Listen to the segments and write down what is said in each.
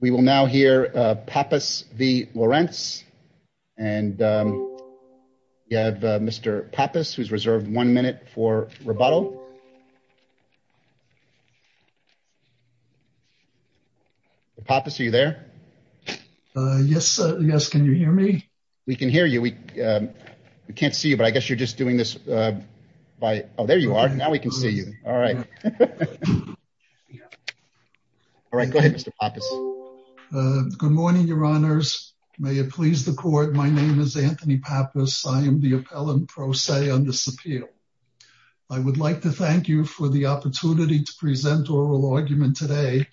We will now hear Pappas v. Lorintz and we have Mr. Pappas who's reserved one minute for rebuttal. Pappas, are you there? Yes, can you hear me? We can hear you. We can't see you, but I guess you're just doing this by... Oh, there you are. Now we can see you. All right. Yeah. All right. Go ahead, Mr. Pappas. Good morning, your honors. May it please the court. My name is Anthony Pappas. I am the appellant pro se on this appeal. I would like to thank you for the opportunity to present oral argument today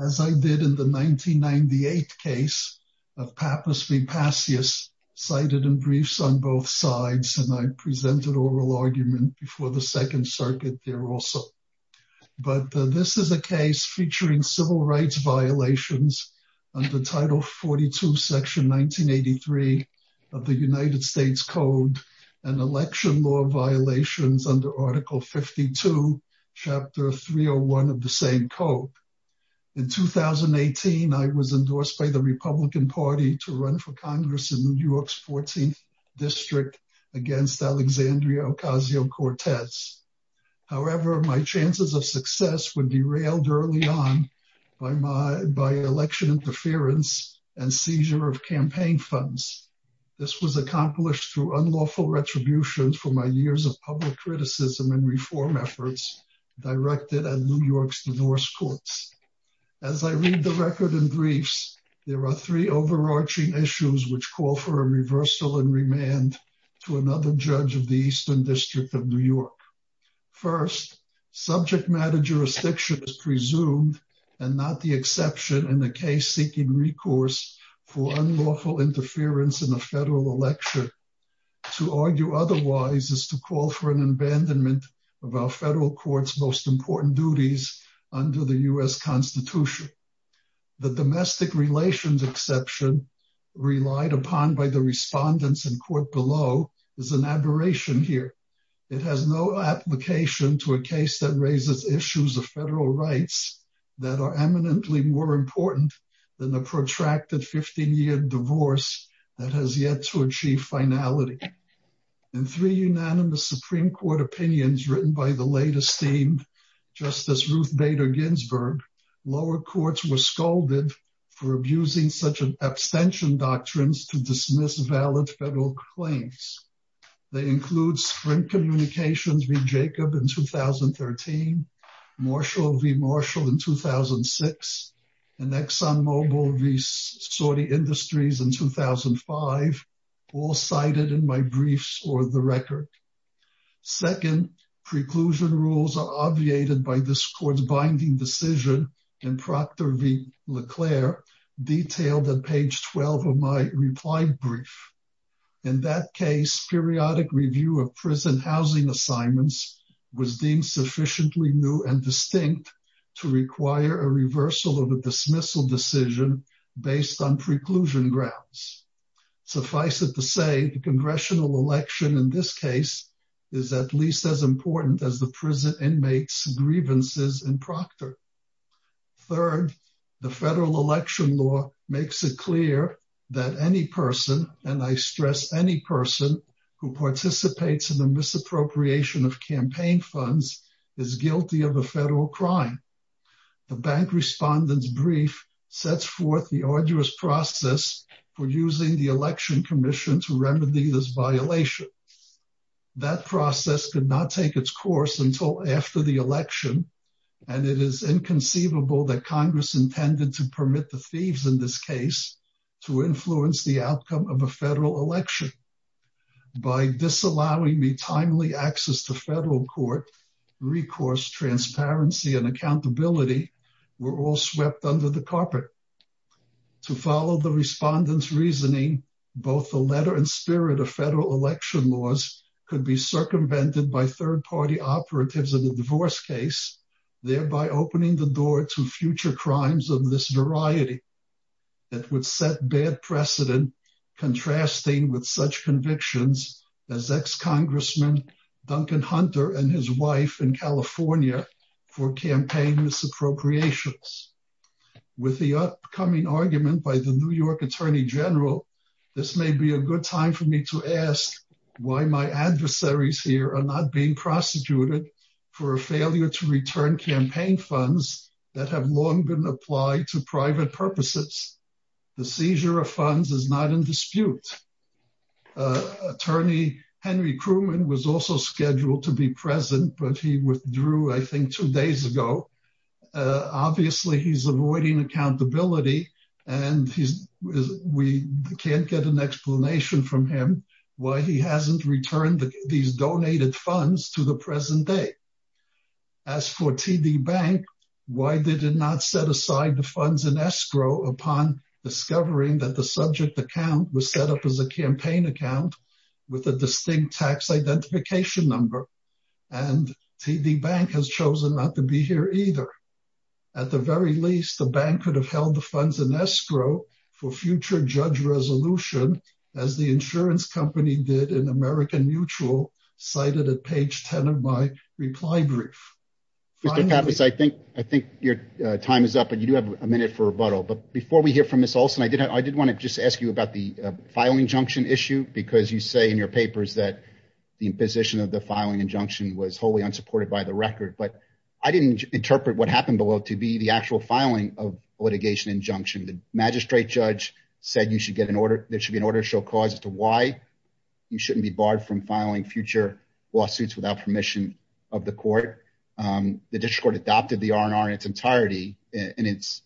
as I did in the 1998 case of Pappas v. Passius, cited in briefs on both sides, and I presented oral argument before the Second Circuit there also. But this is a case featuring civil rights violations under Title 42, Section 1983 of the United States Code and election law violations under Article 52, Chapter 301 of the same code. In 2018, I was endorsed by the Republican Party to run for However, my chances of success were derailed early on by election interference and seizure of campaign funds. This was accomplished through unlawful retributions for my years of public criticism and reform efforts directed at New York's divorce courts. As I read the record in briefs, there are three overarching issues which call for a reversal and remand to another judge of the Eastern District of New York. First, subject matter jurisdiction is presumed and not the exception in the case seeking recourse for unlawful interference in a federal election. To argue otherwise is to call for an abandonment of our federal court's most important duties under the U.S. Constitution. The domestic relations exception relied upon by the respondents in court below is an aberration here. It has no application to a case that raises issues of federal rights that are eminently more important than the protracted 15-year divorce that has yet to achieve finality. In three unanimous Supreme Court opinions written by the late esteemed Justice Ruth Bader Ginsburg, lower courts were scolded for abusing such an abstention doctrines to dismiss valid federal claims. They include Sprint Communications v. Jacob in 2013, Marshall v. Marshall in 2006, and ExxonMobil v. Saudi Industries in 2005, all cited in my briefs or the record. Second, preclusion rules are obviated by this court's binding decision in Procter v. Leclerc, detailed at page 12 of my reply brief. In that case, periodic review of prison housing assignments was deemed sufficiently new and distinct to require a reversal of a dismissal decision based on preclusion grounds. Suffice it to say, the congressional election in this case is at least as important as the prison inmates' grievances in Procter. Third, the federal election law makes it clear that any person, and I stress any person, who participates in the misappropriation of campaign funds is guilty of a federal crime. The bank respondent's brief sets forth the arduous process for using the Election Commission to remedy this violation. That process could not take its course until after the election, and it is inconceivable that Congress intended to permit the thieves in this case to influence the outcome of a federal election. By disallowing me timely access to federal court, recourse, transparency, and accountability were all swept under the carpet. To follow the respondent's reasoning, both the letter and spirit of federal election laws could be circumvented by third-party operatives in a divorce case, thereby opening the door to future crimes of this variety that would set bad precedent contrasting with such convictions as ex-Congressman Duncan Hunter and his wife in California for campaign misappropriations. With the upcoming argument by the New York Attorney General, this may be a good time for me to ask why my adversaries here are not being prosecuted for a failure to return campaign funds that have long been applied to private purposes. The seizure of funds is not in dispute. Attorney Henry Crewman was also scheduled to be present, but he withdrew, I think, two days ago. Obviously, he's avoiding accountability, and we can't get an explanation from him why he hasn't returned these donated funds to the present day. As for TD Bank, why did it not set aside the funds in escrow upon discovering that the subject account was set up as a campaign account with a distinct tax identification number, and TD Bank has chosen not to be here either? At the very least, the bank could have held the funds in escrow for future judge resolution, as the insurance company did in American Mutual, cited at page 10 of my reply brief. Mr. Pappas, I think your time is up, and you do have a minute for rebuttal, but before we hear from Ms. Olson, I did want to just ask you about the filing injunction issue, because you say in your papers that the imposition of the filing injunction was wholly unsupported by the record, but I didn't interpret what happened below to be the actual filing of litigation injunction. The magistrate judge said there should be an order to show cause as to why you shouldn't be barred from filing future lawsuits without permission of the court. The district court adopted the R&R in its entirety. In its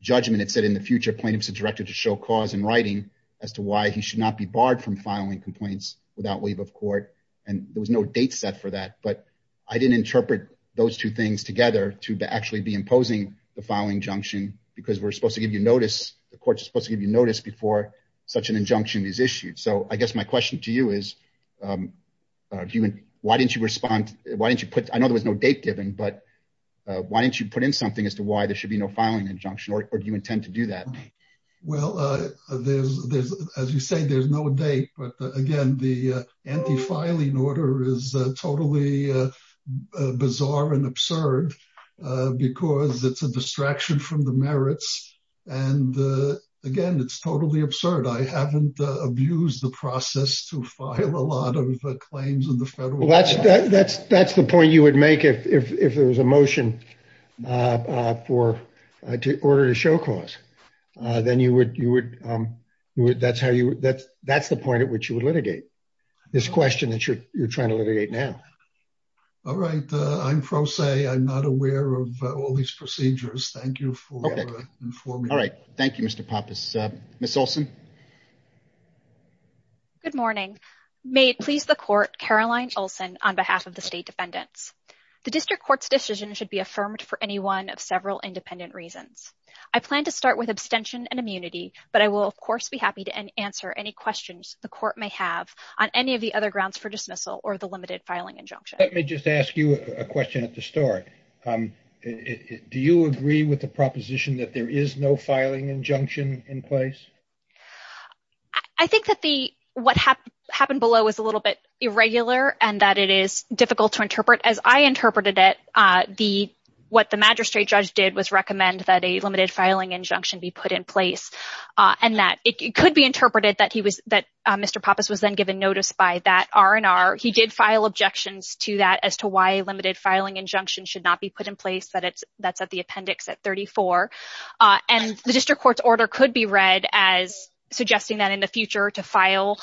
judgment, it said in the future plaintiffs are directed to show cause in writing as to why he should not be barred from filing complaints without leave of court, and there was no date set for that, but I didn't interpret those two things together to actually be imposing the filing injunction, because we're supposed to give you notice, the court's supposed to give you notice before such an injunction is issued, so I guess my question to you is, why didn't you respond, why didn't you put, I know there was no date given, but why didn't you put in something as to why there should be no filing injunction, or do you intend to do that? Well, there's, as you say, there's no date, but again, the anti-filing order is totally bizarre and absurd, because it's a distraction from the merits, and again, it's totally absurd. I haven't abused the process to file a lot of claims in the federal court. That's the point you would make if there was a motion to order to show cause, then you would, that's how you, that's the point at which you would litigate, this question that you're trying to litigate now. All right, I'm pro se, I'm not aware of all these procedures, thank you for informing me. All right, thank you, Mr. Pappas. Ms. Olson. Good morning. May it please the court, Caroline Olson, on behalf of the state defendants. The district court's decision should be affirmed for any one of several independent reasons. I plan to start with abstention and immunity, but I will, of course, be happy to answer any questions the court may have on any of the other grounds for dismissal or the limited filing injunction. Let me just ask you a question at the start. Do you agree with the proposition that there is no filing injunction in place? I think that the, what happened below was a little bit irregular and that it is difficult to interpret. As I interpreted it, what the magistrate judge did was recommend that a limited filing injunction be put in place and that it could be interpreted that he was, that Mr. Pappas was then given notice by that R&R. He did file objections to that as to why a limited filing injunction should not be put in place, that's at the appendix at 34. And the district court's order could be read as suggesting that in the future to file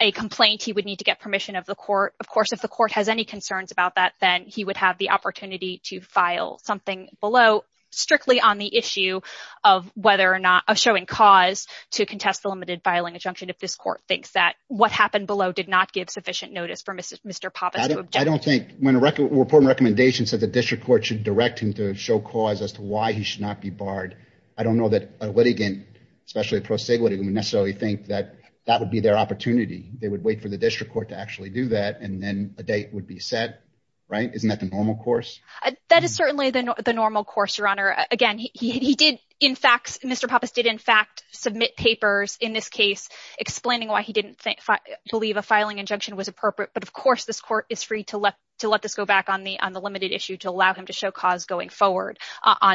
a complaint, he would need to get permission of the court. Of course, if the court has any concerns about that, then he would have the opportunity to file something below strictly on the issue of whether or not, of showing cause to contest the limited filing injunction if this court thinks that what happened below did not give sufficient notice for Mr. Pappas. I don't know that a litigant, especially a pro se litigant would necessarily think that that would be their opportunity. They would wait for the district court to actually do that and then a date would be set, right? Isn't that the normal course? That is certainly the normal course, Your Honor. Again, he did, in fact, Mr. Pappas did in fact submit papers in this case explaining why he didn't think, believe a filing injunction was appropriate. But of course, this court is free to let this go back on the limited issue to allow him to show cause going forward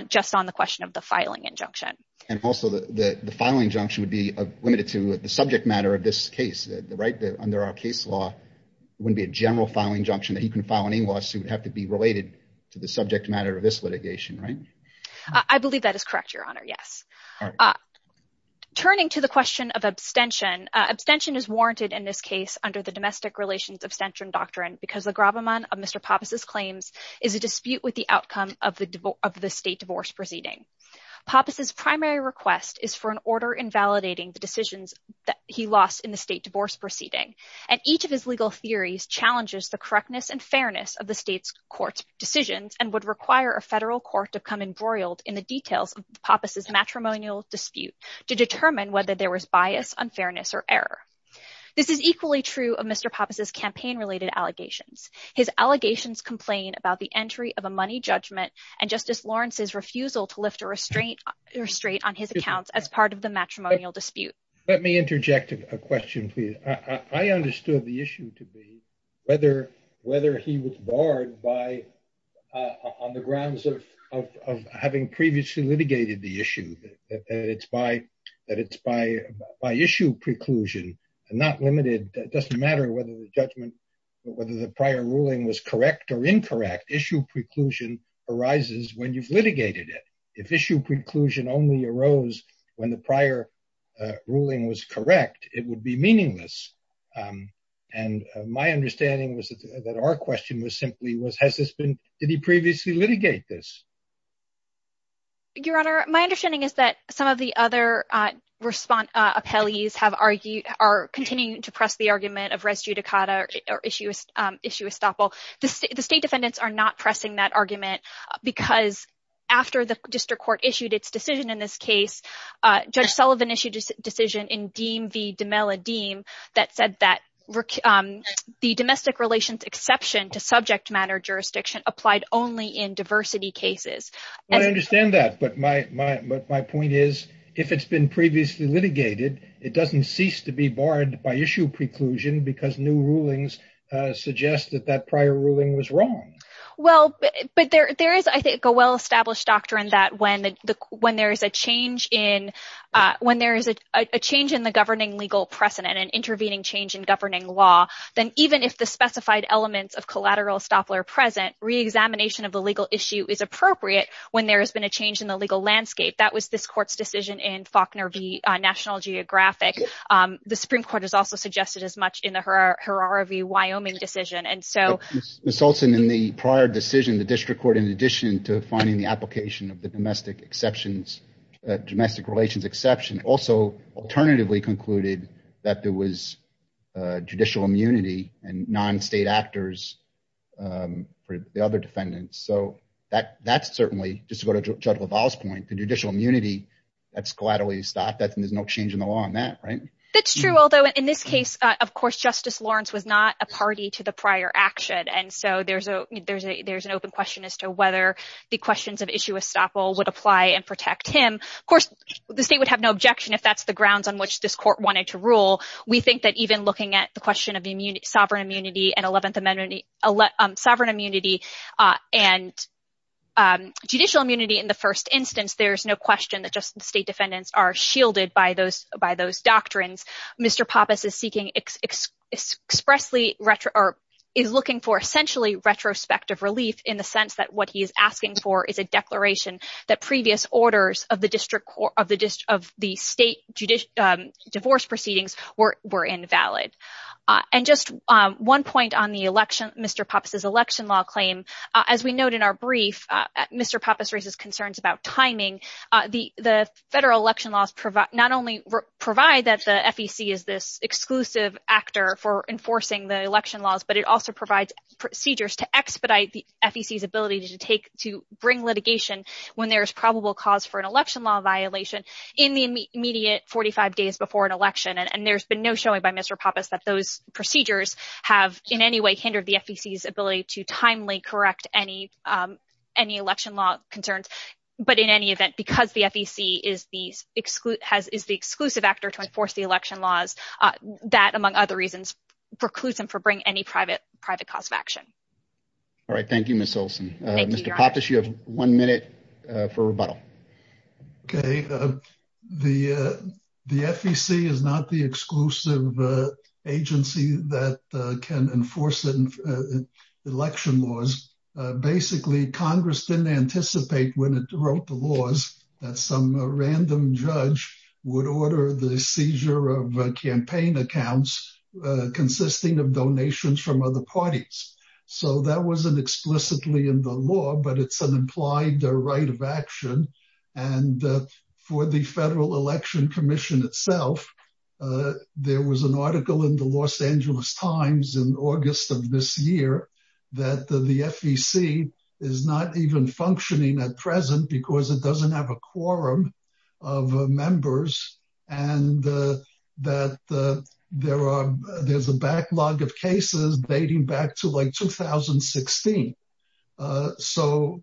just on the question of the filing injunction. And also the filing injunction would be limited to the subject matter of this case, right? Under our case law, it wouldn't be a general filing injunction that you can file any lawsuit would have to be related to the subject matter of this litigation, right? I believe that is correct, Your Honor. Yes. Turning to the question of abstention, abstention is warranted in this case under the domestic relations abstention doctrine because the gravamen of Mr. Pappas's claims is a dispute with the outcome of the state divorce proceeding. Pappas's primary request is for an order invalidating the decisions that he lost in the state divorce proceeding. And each of his legal theories challenges the correctness and fairness of the state's court's decisions and would require a federal court to come embroiled in the details of Pappas's matrimonial dispute to determine whether there was bias, unfairness, or error. This is equally true of Mr. Pappas's campaign-related allegations. His allegations complain about the entry of a money judgment and Justice Lawrence's refusal to lift a restraint on his accounts as part of the matrimonial dispute. Let me interject a question, please. I understood the issue to be whether he was barred on the by issue preclusion, not limited, it doesn't matter whether the judgment, whether the prior ruling was correct or incorrect, issue preclusion arises when you've litigated it. If issue preclusion only arose when the prior ruling was correct, it would be meaningless. And my understanding was that our question was simply was has this been, did he previously litigate this? Your Honor, my understanding is that some of the other appellees have argued, are continuing to press the argument of res judicata or issue estoppel. The state defendants are not pressing that argument because after the district court issued its decision in this case, Judge Sullivan issued a decision in Deem v. DeMella-Deem that said that the domestic relations exception to subject matter jurisdiction applied only in diversity cases. I understand that, but my point is if it's been previously litigated, it doesn't cease to be barred by issue preclusion because new rulings suggest that that prior ruling was wrong. Well, but there is, I think, a well-established doctrine that when there is a change in the governing legal precedent and intervening change in governing law, then even if the specified elements of collateral estoppel are present, re-examination of the legal issue is appropriate when there has been a change in the legal landscape. That was this court's decision in Faulkner v. National Geographic. The Supreme Court has also suggested as much in the Herrera v. Wyoming decision. And so Ms. Olson, in the prior decision, the district court, in addition to finding the application of the domestic exceptions, domestic relations exception, also alternatively and non-state actors for the other defendants. So that's certainly, just to go to Judge LaValle's point, the judicial immunity, that's collateral estoppel. There's no change in the law on that, right? That's true, although in this case, of course, Justice Lawrence was not a party to the prior action. And so there's an open question as to whether the questions of issue estoppel would apply and protect him. Of course, the state would have no objection if that's the grounds on question of sovereign immunity and judicial immunity in the first instance. There's no question that state defendants are shielded by those doctrines. Mr. Pappas is looking for, essentially, retrospective relief in the sense that what he is asking for is a declaration that previous orders of the state divorce proceedings were invalid. And just one point on the election, Mr. Pappas' election law claim, as we note in our brief, Mr. Pappas raises concerns about timing. The federal election laws not only provide that the FEC is this exclusive actor for enforcing the election laws, but it also provides procedures to expedite the FEC's ability to take, to bring litigation when there's probable cause for an election law violation in the immediate 45 days before an election. And there's been no showing by Mr. Pappas that those procedures have in any way hindered the FEC's ability to timely correct any election law concerns. But in any event, because the FEC is the exclusive actor to enforce the election laws, that, among other reasons, precludes him from bringing any private cause of action. All right. Thank you, Ms. Olson. Mr. Pappas, you have one minute for rebuttal. Okay. The FEC is not the exclusive agency that can enforce election laws. Basically, Congress didn't anticipate when it wrote the laws that some random judge would order the seizure of campaign accounts consisting of donations from other parties. So that wasn't explicitly in the law, but it's an implied right of action. And for the Federal Election Commission itself, there was an article in the Los Angeles Times in August of this year that the FEC is not even functioning at present because it doesn't have a like 2016. So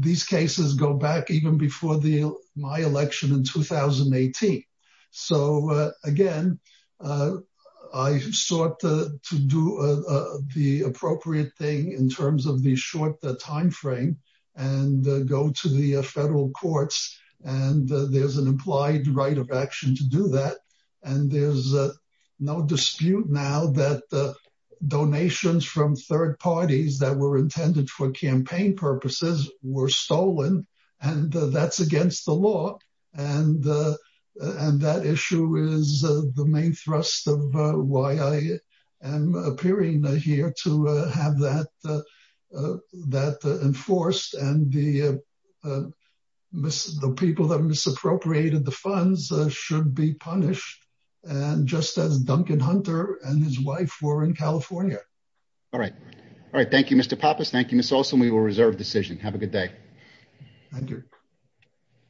these cases go back even before my election in 2018. So again, I sought to do the appropriate thing in terms of the short time frame and go to the federal courts. And there's implied right of action to do that. And there's no dispute now that donations from third parties that were intended for campaign purposes were stolen. And that's against the law. And that issue is the main thrust of why I am appearing here to have that enforced. And the people that misappropriated the funds should be punished. And just as Duncan Hunter and his wife were in California. All right. All right. Thank you, Mr. Pappas. Thank you, Ms. Olson. We will reserve decision. Have a good day. Thank you.